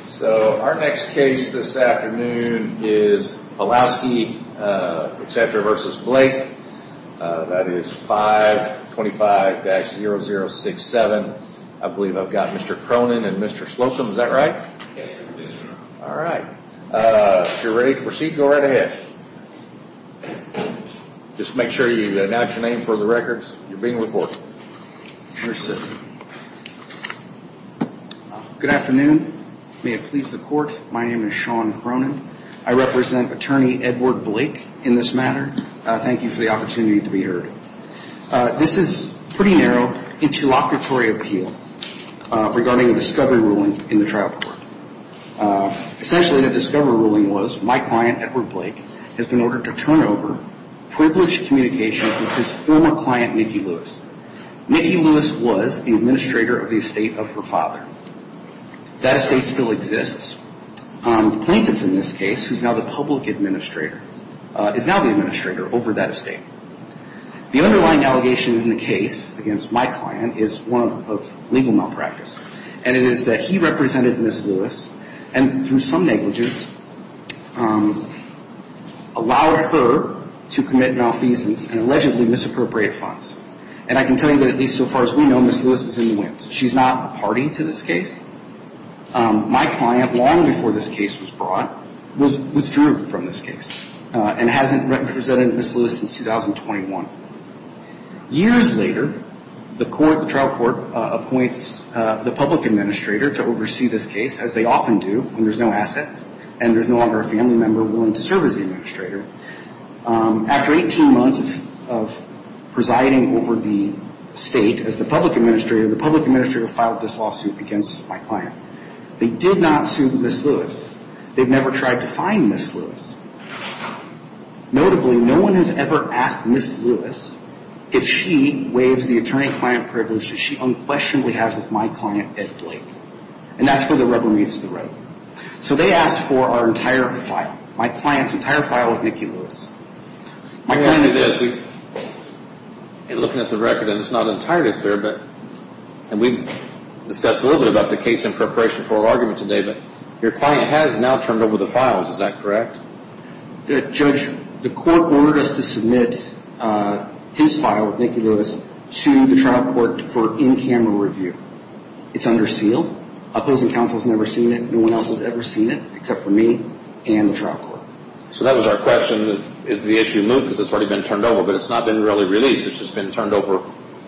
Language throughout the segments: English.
is 525-0067. I believe I've got Mr. Cronin and Mr. Slocum. Is that right? Yes, sir. All right. If you're ready to proceed, go right ahead. Just make sure you announce your name for the records. You're being recorded. Here, sir. Good afternoon. May it please the court, my name is Sean Cronin. I represent attorney Edward Blake in this matter. Thank you for the opportunity to be heard. This is pretty narrow interlocutory appeal regarding a discovery ruling in the trial court. Essentially the discovery ruling was my client, Edward Blake, has been ordered to turn over privileged communications with his former client, Mickey Lewis. Mickey Lewis was the administrator of the estate of her father. That estate still exists. The plaintiff in this case, who's now the public administrator, is now the administrator over that estate. The underlying allegation in the case against my client is one of legal malpractice. And it is that he represented Ms. Lewis and, through some negligence, allowed her to commit malfeasance and allegedly misappropriate funds. And I can tell you that, at least so far as we know, Ms. Lewis is in the wind. She's not party to this case. My client, long before this case was brought, withdrew from this case and hasn't represented Ms. Lewis since 2021. Years later, the trial court appoints the public administrator to oversee this case, as they often do when there's no assets and there's no longer a family member willing to serve as the administrator. After 18 months of presiding over the estate as the public administrator, the public administrator filed this lawsuit against my client. They did not sue Ms. Lewis. They've never tried to find Ms. Lewis. Notably, no one has ever asked Ms. Lewis if she waives the attorney-client privileges she unquestionably has with my client, Ed Blake. And that's where the rubber meets the road. So they asked for our entire file, my client's entire file with Nikki Lewis. My point is, looking at the record, and it's not entirely clear, and we've discussed a little bit about the case in preparation for our argument today, but your client has now turned over the files. Is that correct? Judge, the court ordered us to submit his file with Nikki Lewis to the trial court for in-camera review. It's under seal. Opposing counsel has never seen it. No one else has ever seen it except for me and the trial court. So that was our question, is the issue moved because it's already been turned over, but it's not been really released. It's just been turned over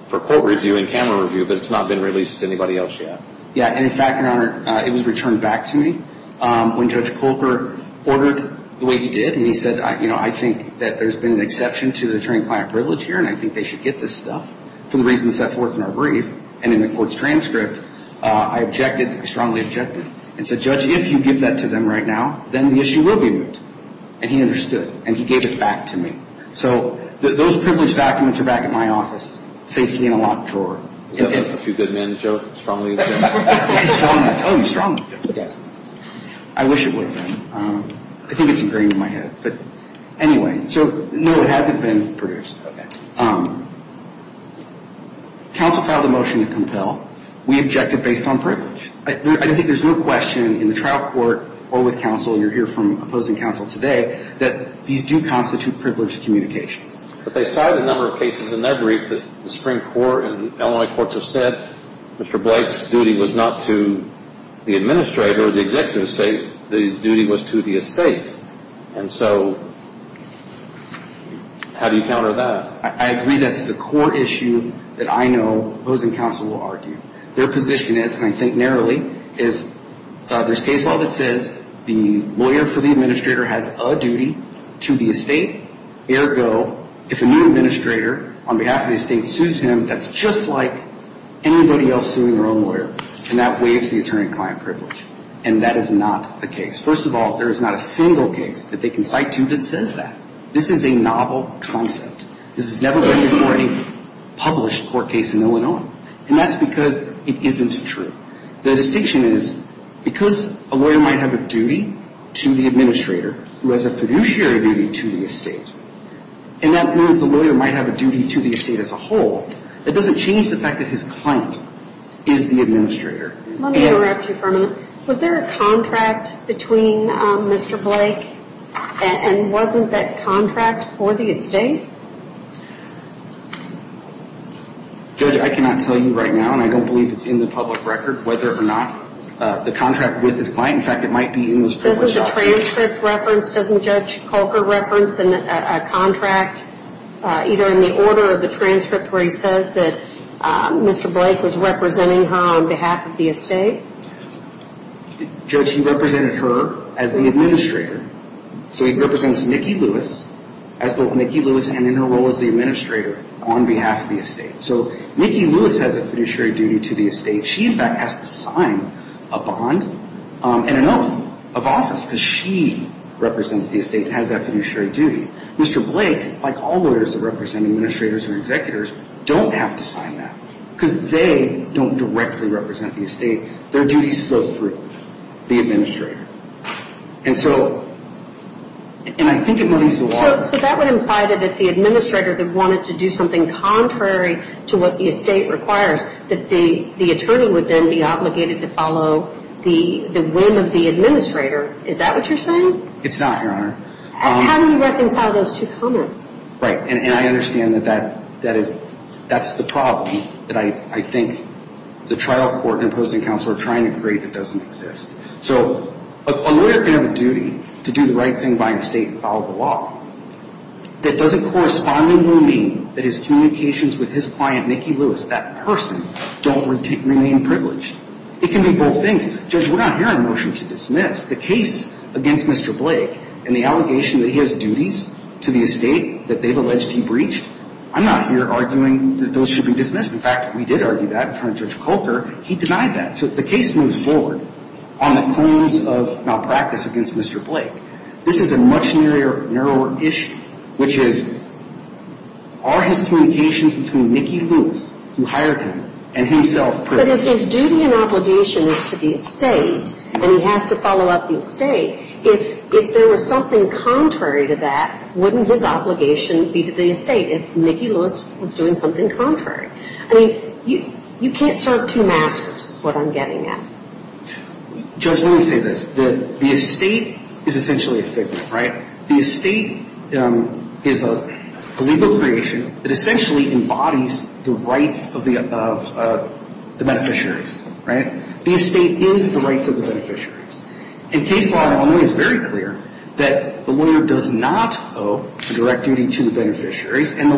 for court review, in-camera review, but it's not been released to anybody else yet. Yeah, and in fact, Your Honor, it was returned back to me when Judge Colker ordered the way he did, and he said, you know, I think that there's been an exception to the attorney-client privilege here, and I think they should get this stuff for the reasons set forth in our brief. And in the court's transcript, I objected, I strongly objected, and said, Judge, if you give that to them right now, then the issue will be moved. And he understood, and he gave it back to me. So those privilege documents are back at my office, safety in a locked drawer. Is that like a few good men joke, strongly object? Oh, he strongly objected, yes. I wish it would have been. I think it's ingrained in my head. But anyway, so no, it hasn't been produced. Counsel filed a motion to compel. We objected based on privilege. I think there's no question in the trial court or with counsel, and you'll hear from opposing counsel today, that these do constitute privileged communications. But they cited a number of cases in their brief that the Supreme Court and Illinois courts have said Mr. Blake's duty was not to the administrator or the executive estate, the duty was to the estate. And so how do you counter that? I agree that's the core issue that I know opposing counsel will argue. Their position is, and I think narrowly, is there's case law that says the lawyer for the administrator has a duty to the estate. Ergo, if a new administrator on behalf of the estate sues him, that's just like anybody else suing their own lawyer. And that waives the attorney-client privilege. And that is not the case. First of all, there is not a single case that they considered that says that. This is a novel concept. This has never been before a published court case in Illinois. And that's because it isn't true. The distinction is, because a lawyer might have a duty to the administrator who has a fiduciary duty to the estate, and that means the lawyer might have a duty to the estate as a whole, that doesn't change the fact that his client is the administrator. Let me interrupt you for a moment. Was there a contract between Mr. Blake and wasn't that contract for the estate? Judge, I cannot tell you right now, and I don't believe it's in the public record, whether or not the contract with his client. In fact, it might be in the public record. Doesn't the transcript reference, doesn't Judge Coker reference a contract either in the order of the transcript where he says that Mr. Blake was representing her on behalf of the estate? Judge, he represented her as the administrator. So he represents Nikki Lewis as both Nikki Lewis and in her role as the administrator on behalf of the estate. So Nikki Lewis has a fiduciary duty to the estate. She, in fact, has to sign a bond and an oath of office because she represents the estate and has that fiduciary duty. Mr. Blake, like all lawyers that represent administrators or executors, don't have to sign that because they don't directly represent the estate. Their duties go through the administrator. And so, and I think it moves the law. So that would imply that if the administrator wanted to do something contrary to what the estate requires, that the attorney would then be obligated to follow the whim of the administrator. Is that what you're saying? It's not, Your Honor. How do you reconcile those two comments? Right. And I understand that that is, that's the problem that I think the trial court and opposing counsel are trying to create that doesn't exist. So a lawyer can have a duty to do the right thing by an estate and follow the law. That doesn't correspondingly mean that his communications with his client, Nikki Lewis, that person, don't remain privileged. It can be both things. Judge, we're not here on a motion to dismiss. The case against Mr. Blake and the allegation that he has duties to the estate that they've alleged he breached, I'm not here arguing that those should be dismissed. In fact, we did argue that in front of Judge Coker. He denied that. So the case moves forward on the claims of malpractice against Mr. Blake. This is a much narrower issue, which is, are his communications between Nikki Lewis, who hired him, and himself privileged? But if his duty and obligation is to the estate and he has to follow up the estate, if there was something contrary to that, wouldn't his obligation be to the estate if Nikki Lewis was doing something contrary? I mean, you can't serve two masters is what I'm getting at. Judge, let me say this. The estate is essentially a figment, right? The estate is a legal creation that essentially embodies the rights of the beneficiaries, right? The estate is the rights of the beneficiaries. In case law, Illinois is very clear that the lawyer does not owe the direct duty to the beneficiaries, and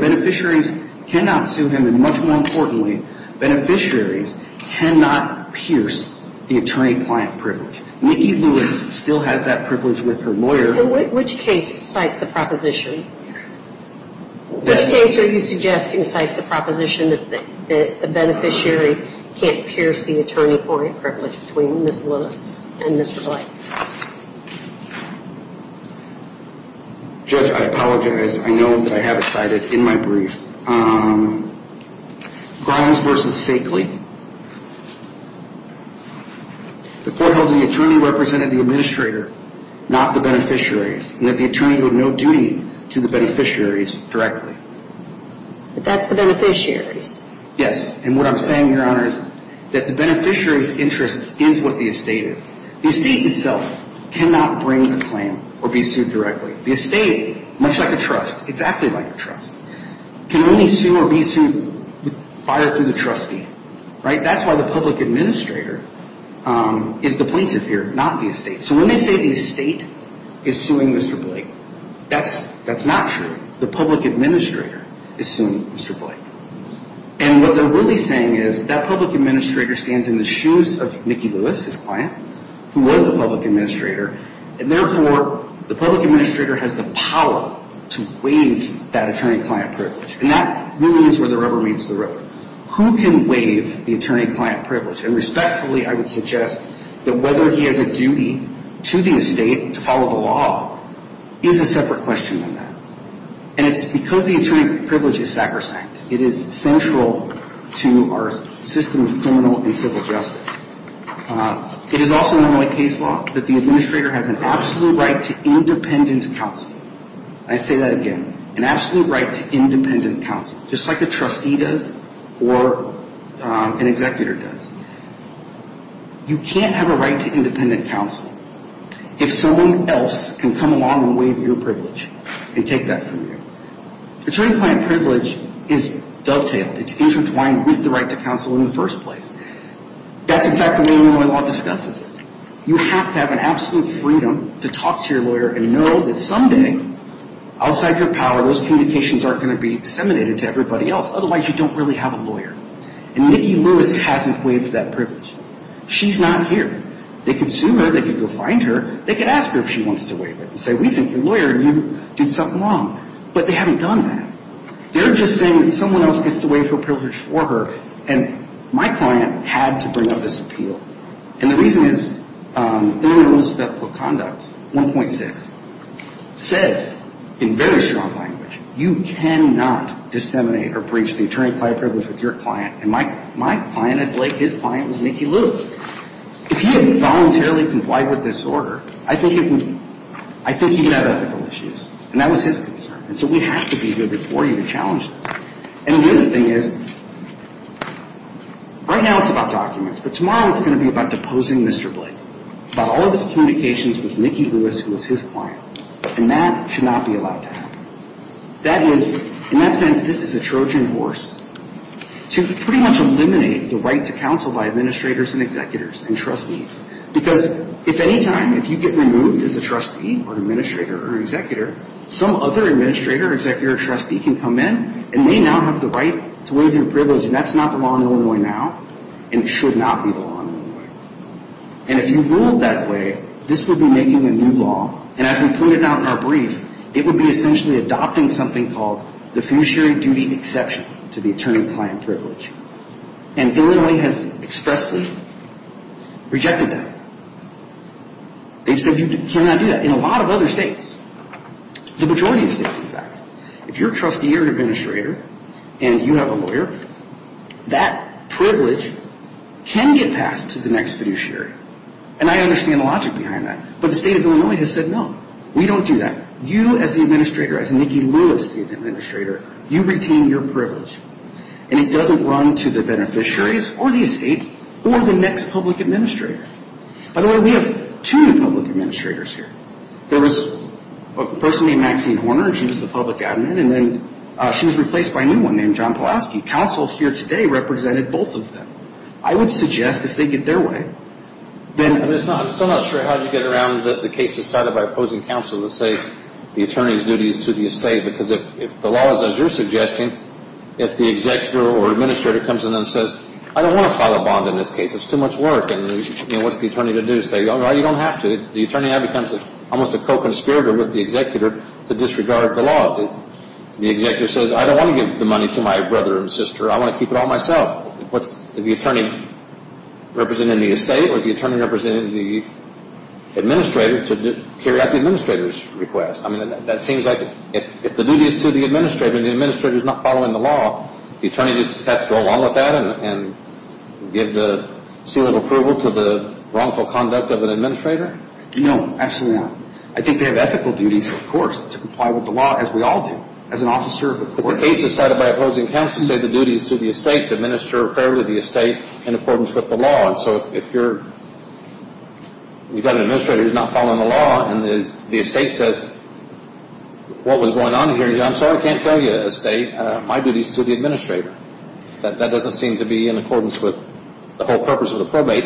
beneficiaries cannot sue him. And much more importantly, beneficiaries cannot pierce the attorney-client privilege. Nikki Lewis still has that privilege with her lawyer. And which case cites the proposition? Which case are you suggesting cites the proposition that the beneficiary can't pierce the attorney-client privilege between Ms. Lewis and Mr. Blake? Judge, I apologize. I know that I have it cited in my brief. Grimes v. Sakely. The court holds the attorney represented the administrator, not the beneficiaries, and that the attorney owed no duty to the beneficiaries directly. But that's the beneficiaries. Yes. And what I'm saying, Your Honor, is that the beneficiaries' interests is what the estate is. The estate itself cannot bring the claim or be sued directly. The estate, much like a trust, exactly like a trust, can only sue or be sued by or through the trustee, right? That's why the public administrator is the plaintiff here, not the estate. So when they say the estate is suing Mr. Blake, that's not true. The public administrator is suing Mr. Blake. And what they're really saying is that public administrator stands in the shoes of Nikki Lewis, his client, who was the public administrator, and therefore the public administrator has the power to waive that attorney-client privilege. And that really is where the rubber meets the road. Who can waive the attorney-client privilege? And respectfully, I would suggest that whether he has a duty to the estate to follow the law is a separate question than that. And it's because the attorney privilege is sacrosanct. It is central to our system of criminal and civil justice. It is also in the Moy case law that the administrator has an absolute right to independent counsel. And I say that again, an absolute right to independent counsel, just like a trustee does or an executor does. You can't have a right to independent counsel if someone else can come along and waive your privilege and take that from you. Attorney-client privilege is dovetailed. It's intertwined with the right to counsel in the first place. That's, in fact, the way the Moy law discusses it. You have to have an absolute freedom to talk to your lawyer and know that someday, outside your power, those communications aren't going to be disseminated to everybody else. Otherwise, you don't really have a lawyer. And Nikki Lewis hasn't waived that privilege. She's not here. They can sue her. They can go find her. They can ask her if she wants to waive it and say, we think you're a lawyer and you did something wrong. But they haven't done that. They're just saying that someone else gets to waive her privilege for her, and my client had to bring up this appeal. And the reason is Illinois Rules of Ethical Conduct 1.6 says in very strong language, you cannot disseminate or breach the attorney-client privilege with your client. And my client, like his client, was Nikki Lewis. If he had voluntarily complied with this order, I think he would have ethical issues. And that was his concern. And so we have to be good before you to challenge this. And the other thing is, right now it's about documents, but tomorrow it's going to be about deposing Mr. Blake, about all of his communications with Nikki Lewis, who was his client. And that should not be allowed to happen. That is, in that sense, this is a Trojan horse to pretty much eliminate the right to counsel by administrators and executors and trustees. Because if any time, if you get removed as a trustee or administrator or executor, some other administrator or executor or trustee can come in and they now have the right to waive your privilege, and that's not the law in Illinois now, and it should not be the law in Illinois. And if you ruled that way, this would be making a new law, and as we pointed out in our brief, it would be essentially adopting something called the fiduciary duty exception to the attorney-client privilege. And Illinois has expressly rejected that. They've said you cannot do that in a lot of other states. The majority of states, in fact. If you're a trustee or administrator and you have a lawyer, that privilege can get passed to the next fiduciary. And I understand the logic behind that. But the state of Illinois has said no, we don't do that. You as the administrator, as Nikki Lewis, the administrator, you retain your privilege. And it doesn't run to the beneficiaries or the estate or the next public administrator. By the way, we have two new public administrators here. There was a person named Maxine Horner, and she was the public admin, and then she was replaced by a new one named John Pulaski. Counsel here today represented both of them. I would suggest if they get their way, then... What's the attorney to do? Say, well, you don't have to. The attorney now becomes almost a co-conspirator with the executor to disregard the law. The executor says, I don't want to give the money to my brother and sister. I want to keep it all myself. Is the attorney representing the estate or is the attorney representing the administrator to carry out the administrator's request? I mean, that seems like if the duty is to the administrator and the administrator is not following the law, the attorney just has to go along with that and give the seal of approval to the wrongful conduct of an administrator? No, absolutely not. I think they have ethical duties, of course, to comply with the law, as we all do. As an officer of the court... What was going on here, John? I'm sorry I can't tell you, estate. My duty is to the administrator. That doesn't seem to be in accordance with the whole purpose of the probate.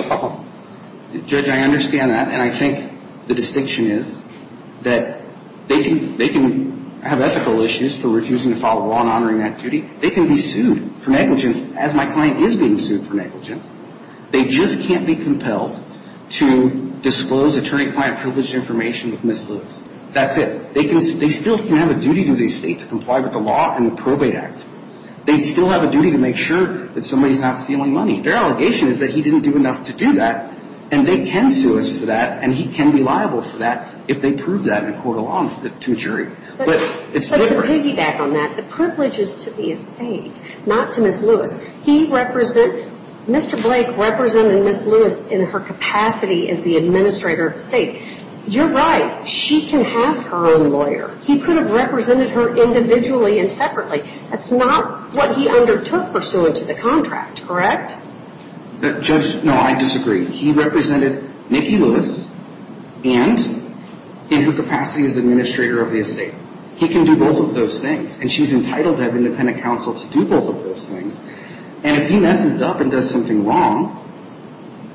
Judge, I understand that, and I think the distinction is that they can have ethical issues for refusing to follow the law and honoring that duty. They can be sued for negligence, as my client is being sued for negligence. They just can't be compelled to disclose attorney-client privileged information with Ms. Lewis. That's it. They still can have a duty to the estate to comply with the law and the Probate Act. They still have a duty to make sure that somebody's not stealing money. Their allegation is that he didn't do enough to do that, and they can sue us for that, and he can be liable for that if they prove that in a court of law to a jury. But to piggyback on that, the privilege is to the estate, not to Ms. Lewis. Mr. Blake represented Ms. Lewis in her capacity as the administrator of the estate. You're right. She can have her own lawyer. He could have represented her individually and separately. That's not what he undertook pursuant to the contract, correct? No, I disagree. He represented Nikki Lewis and in her capacity as administrator of the estate. He can do both of those things, and she's entitled to have independent counsel to do both of those things. And if he messes up and does something wrong,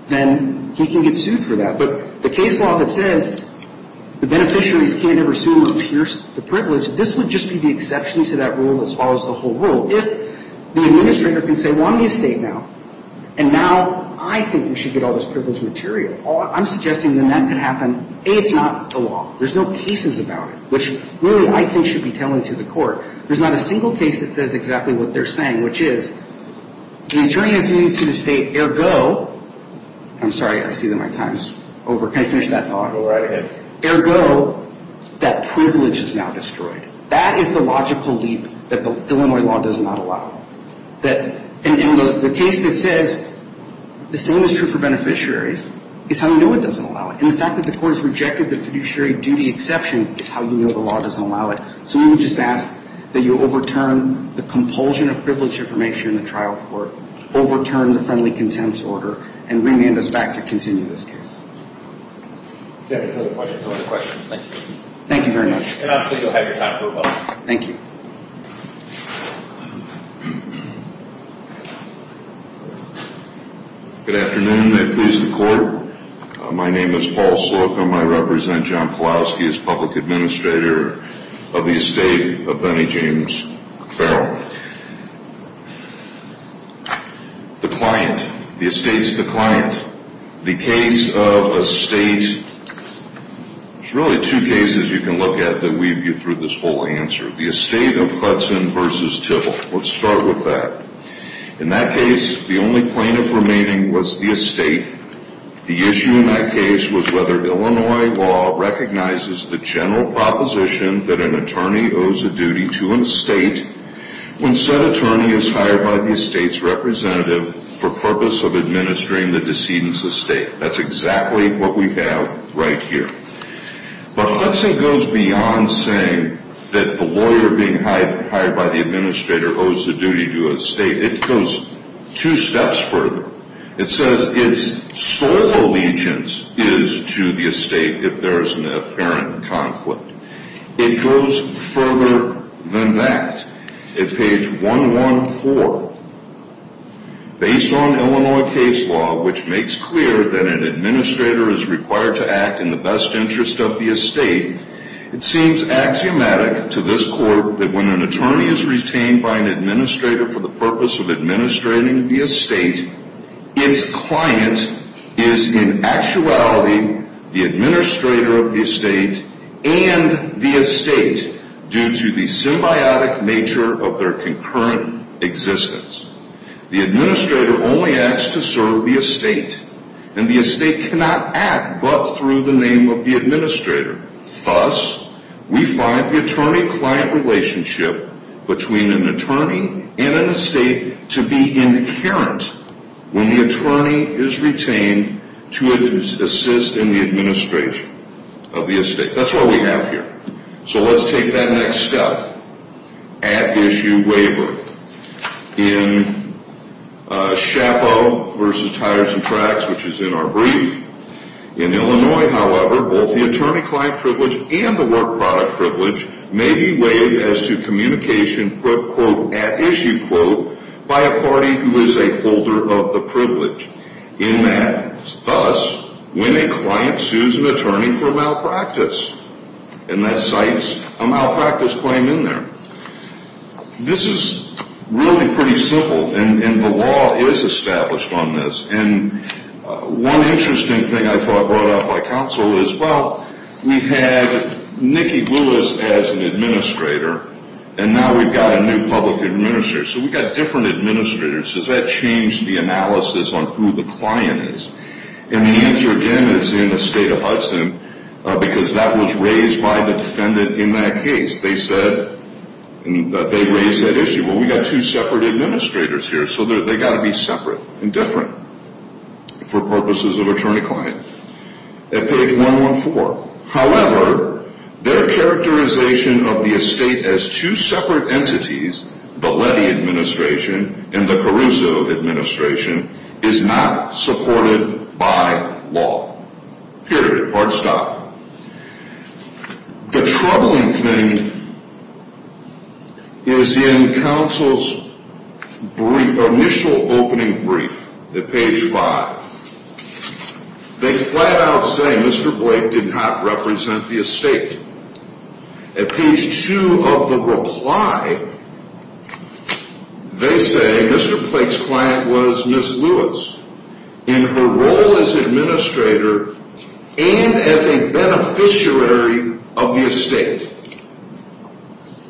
then he can get sued for that. But the case law that says the beneficiaries can't ever sue him or pierce the privilege, this would just be the exception to that rule that follows the whole rule. If the administrator can say, well, I'm the estate now, and now I think we should get all this privilege material, I'm suggesting then that could happen. A, it's not the law. There's no cases about it, which really I think should be telling to the court. There's not a single case that says exactly what they're saying, which is the attorney has to sue the estate, ergo – I'm sorry, I see that my time's over. Can I finish that thought? Ergo, that privilege is now destroyed. That is the logical leap that the Illinois law does not allow. And the case that says the same is true for beneficiaries is how you know it doesn't allow it. And the fact that the court has rejected the fiduciary duty exception is how you know the law doesn't allow it. So we would just ask that you overturn the compulsion of privilege information in the trial court, overturn the friendly contempt order, and remand us back to continue this case. Thank you very much. And I'm sure you'll have your time for a while. Thank you. Good afternoon. May it please the court. My name is Paul Slocum. I represent John Pulaski as public administrator of the estate of Benny James Farrell. The client. The estate's the client. The case of a state – there's really two cases you can look at that weave you through this whole answer. The estate of Hudson v. Tibble. Let's start with that. In that case, the only plaintiff remaining was the estate. The issue in that case was whether Illinois law recognizes the general proposition that an attorney owes a duty to an estate when said attorney is hired by the estate's representative for purpose of administering the decedent's estate. That's exactly what we have right here. But Hudson goes beyond saying that the lawyer being hired by the administrator owes a duty to an estate. It goes two steps further. It says its sole allegiance is to the estate if there is an apparent conflict. It goes further than that. Page 114. Based on Illinois case law, which makes clear that an administrator is required to act in the best interest of the estate, it seems axiomatic to this court that when an attorney is retained by an administrator for the purpose of administrating the estate, its client is in actuality the administrator of the estate and the estate due to the symbiotic nature of their concurrent existence. The administrator only acts to serve the estate and the estate cannot act but through the name of the administrator. Thus, we find the attorney-client relationship between an attorney and an estate to be inherent when the attorney is retained to assist in the administration of the estate. That's what we have here. So let's take that next step. At-issue waiver. In Shapo v. Tires and Tracks, which is in our brief, in Illinois, however, both the attorney-client privilege and the work product privilege may be waived as to communication, quote, quote, at-issue, quote, by a party who is a holder of the privilege. In that, thus, when a client sues an attorney for malpractice, and that cites a malpractice claim in there. This is really pretty simple and the law is established on this. And one interesting thing I thought brought up by counsel is, well, we had Nikki Lewis as an administrator and now we've got a new public administrator. So we've got different administrators. Does that change the analysis on who the client is? And the answer, again, is in the state of Hudson because that was raised by the defendant in that case. They said, they raised that issue. Well, we've got two separate administrators here, so they've got to be separate and different for purposes of attorney-client. At page 114. However, their characterization of the estate as two separate entities, the Lettie administration and the Caruso administration, is not supported by law. Period. Hard stop. The troubling thing is in counsel's initial opening brief at page 5. They flat out say, Mr. Blake did not represent the estate. At page 2 of the reply, they say, Mr. Blake's client was Ms. Lewis. And her role as administrator and as a beneficiary of the estate.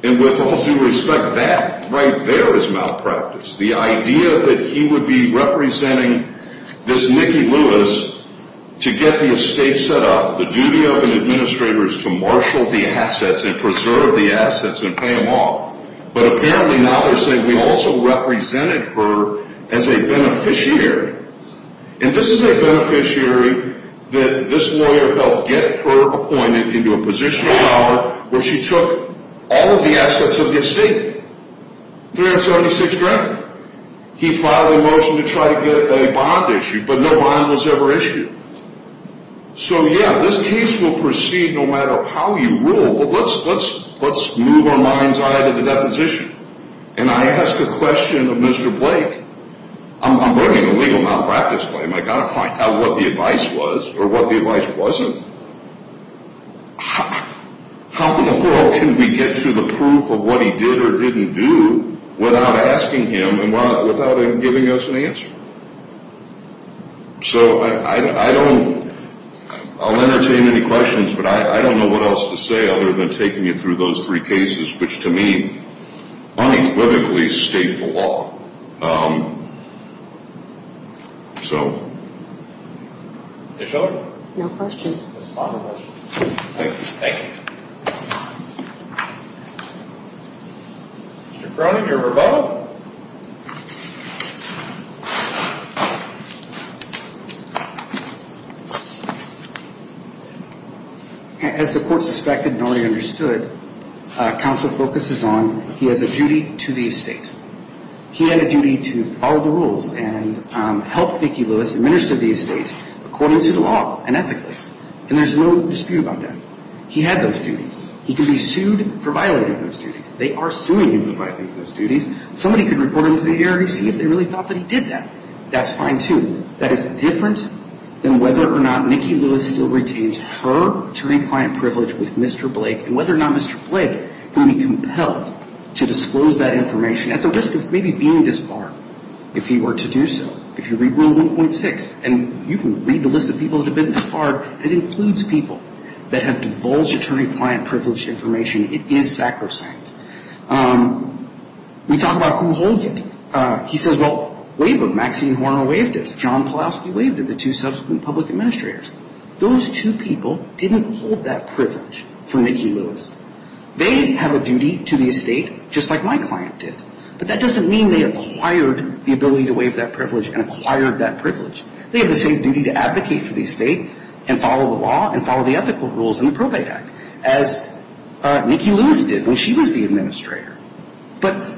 And with all due respect, that right there is malpractice. The idea that he would be representing this Nikki Lewis to get the estate set up, the duty of an administrator is to marshal the assets and preserve the assets and pay them off. But apparently now they're saying we also represented her as a beneficiary. And this is a beneficiary that this lawyer helped get her appointed into a position of power where she took all of the assets of the estate. $376,000. He filed a motion to try to get a bond issued, but no bond was ever issued. So yeah, this case will proceed no matter how you rule. But let's move our mind's eye to the deposition. And I ask a question of Mr. Blake. I'm bringing a legal malpractice claim. I've got to find out what the advice was or what the advice wasn't. How in the world can we get to the proof of what he did or didn't do without asking him and without him giving us an answer? So I don't, I'll entertain any questions, but I don't know what else to say other than taking you through those three cases, which to me unequivocally state the law. Um, so. No questions. Thank you. Mr. Cronin, your rebuttal. As the court suspected and already understood, counsel focuses on he has a duty to the estate. He had a duty to follow the rules and help Nikki Lewis administer the estate according to the law and ethically. And there's no dispute about that. He had those duties. He can be sued for violating those duties. They are suing him for violating those duties. Somebody could report him to the A.R.C. if they really thought that he did that. That's fine too. That is different than whether or not Nikki Lewis still retains her attorney-client privilege with Mr. Blake and whether or not Mr. Blake can be compelled to disclose that information at the risk of maybe being disbarred if he were to do so. If you read Rule 1.6 and you can read the list of people that have been disbarred, it includes people that have divulged attorney-client privilege information. It is sacrosanct. We talk about who holds it. He says, well, Waver, Maxine Horner waived it. John Pulaski waived it, the two subsequent public administrators. Those two people didn't hold that privilege for Nikki Lewis. They have a duty to the estate just like my client did. But that doesn't mean they acquired the ability to waive that privilege and acquired that privilege. They have the same duty to advocate for the estate and follow the law and follow the ethical rules in the Probate Act as Nikki Lewis did when she was the administrator. But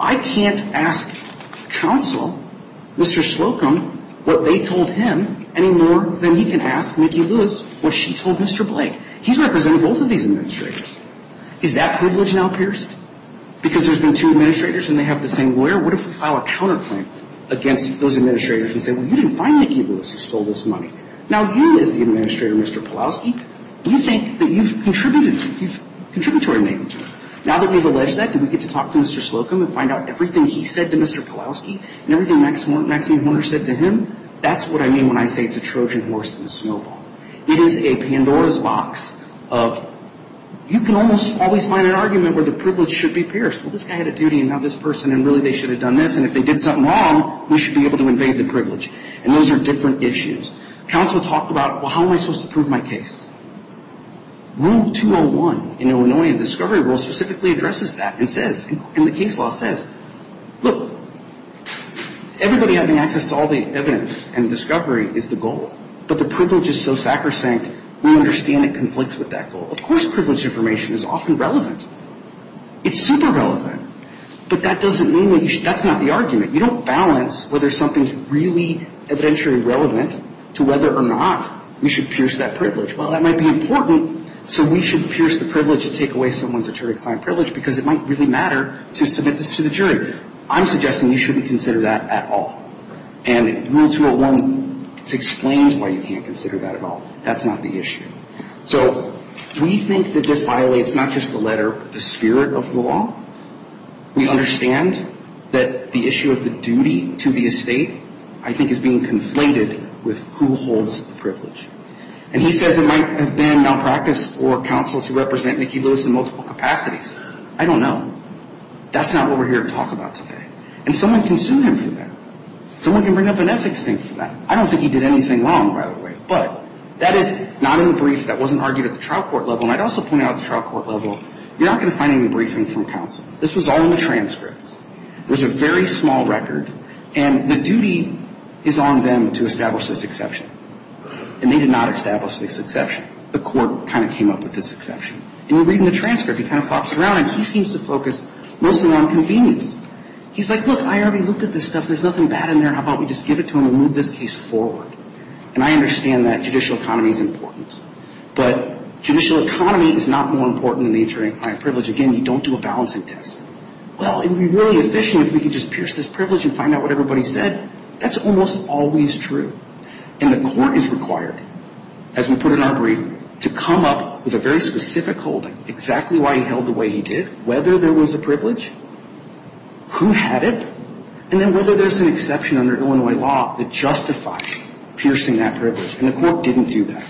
I can't ask counsel, Mr. Slocum, what they told him any more than he can ask Nikki Lewis what she told Mr. Blake. He's represented both of these administrators. Is that privilege now pierced? Because there's been two administrators and they have the same lawyer? What if we file a counterclaim against those administrators and say, well, you didn't find Nikki Lewis who stole this money. Now, you as the administrator, Mr. Pulaski, do you think that you've contributed? You've contributed to our negligence. Now that we've alleged that, do we get to talk to Mr. Slocum and find out everything he said to Mr. Pulaski and everything Maxine Horner said to him? That's what I mean when I say it's a Trojan horse in the snowball. It is a Pandora's box of you can almost always find an argument where the privilege should be pierced. Well, this guy had a duty and now this person and really they should have done this. And if they did something wrong, we should be able to invade the privilege. And those are different issues. Counsel talked about, well, how am I supposed to prove my case? Rule 201 in Illinois, in the discovery rule, specifically addresses that and says, in the case law says, look, everybody having access to all the evidence, everybody having access to all the evidence, is a criminal. And that evidence and discovery is the goal. But the privilege is so sacrosanct, we understand it conflicts with that goal. Of course privilege information is often relevant. It's super relevant. But that doesn't mean that you should – that's not the argument. You don't balance whether something's really evidentiary relevant to whether or not we should pierce that privilege. Well, that might be important, so we should pierce the privilege to take away someone's attorney-assigned privilege because it might really matter to submit this to the jury. I'm suggesting you shouldn't consider that at all. And Rule 201 explains why you can't consider that at all. That's not the issue. So we think that this violates not just the letter, but the spirit of the law. We understand that the issue of the duty to the estate, I think, is being conflated with who holds the privilege. And he says it might have been malpractice for counsel to represent Mickey Lewis in multiple capacities. I don't know. That's not what we're here to talk about today. And someone can sue him for that. Someone can bring up an ethics thing for that. I don't think he did anything wrong, by the way. But that is not in the briefs. That wasn't argued at the trial court level. And I'd also point out at the trial court level, you're not going to find any briefing from counsel. This was all in the transcripts. There's a very small record. And the duty is on them to establish this exception. And they did not establish this exception. The court kind of came up with this exception. And you read in the transcript, he kind of flops around, and he seems to focus mostly on convenience. He's like, look, I already looked at this stuff. There's nothing bad in there. How about we just give it to him and move this case forward? And I understand that judicial economy is important. But judicial economy is not more important than the injury and client privilege. Again, you don't do a balancing test. Well, it would be really efficient if we could just pierce this privilege and find out what everybody said. That's almost always true. And the court is required, as we put it in our brief, to come up with a very specific holding, exactly why he held the way he did, whether there was a privilege, who had it, and then whether there's an exception under Illinois law that justifies piercing that privilege. And the court didn't do that.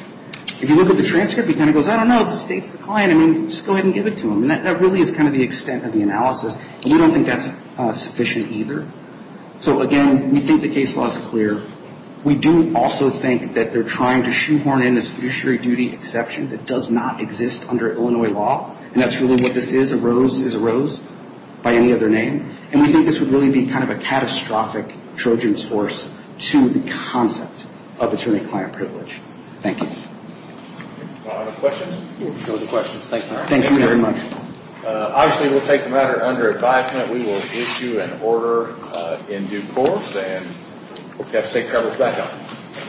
If you look at the transcript, he kind of goes, I don't know, the state's the client, I mean, just go ahead and give it to him. And that really is kind of the extent of the analysis. And we don't think that's sufficient either. So, again, we think the case law is clear. We do also think that they're trying to shoehorn in this fiduciary duty exception that does not exist under Illinois law. And that's really what this is. A rose is a rose, by any other name. And we think this would really be kind of a catastrophic Trojan horse to the concept of attorney-client privilege. Thank you. Other questions? No questions. Thank you. Thank you very much. Obviously, we'll take the matter under advisement. We will issue an order in due course. And I hope you have safe travels back home.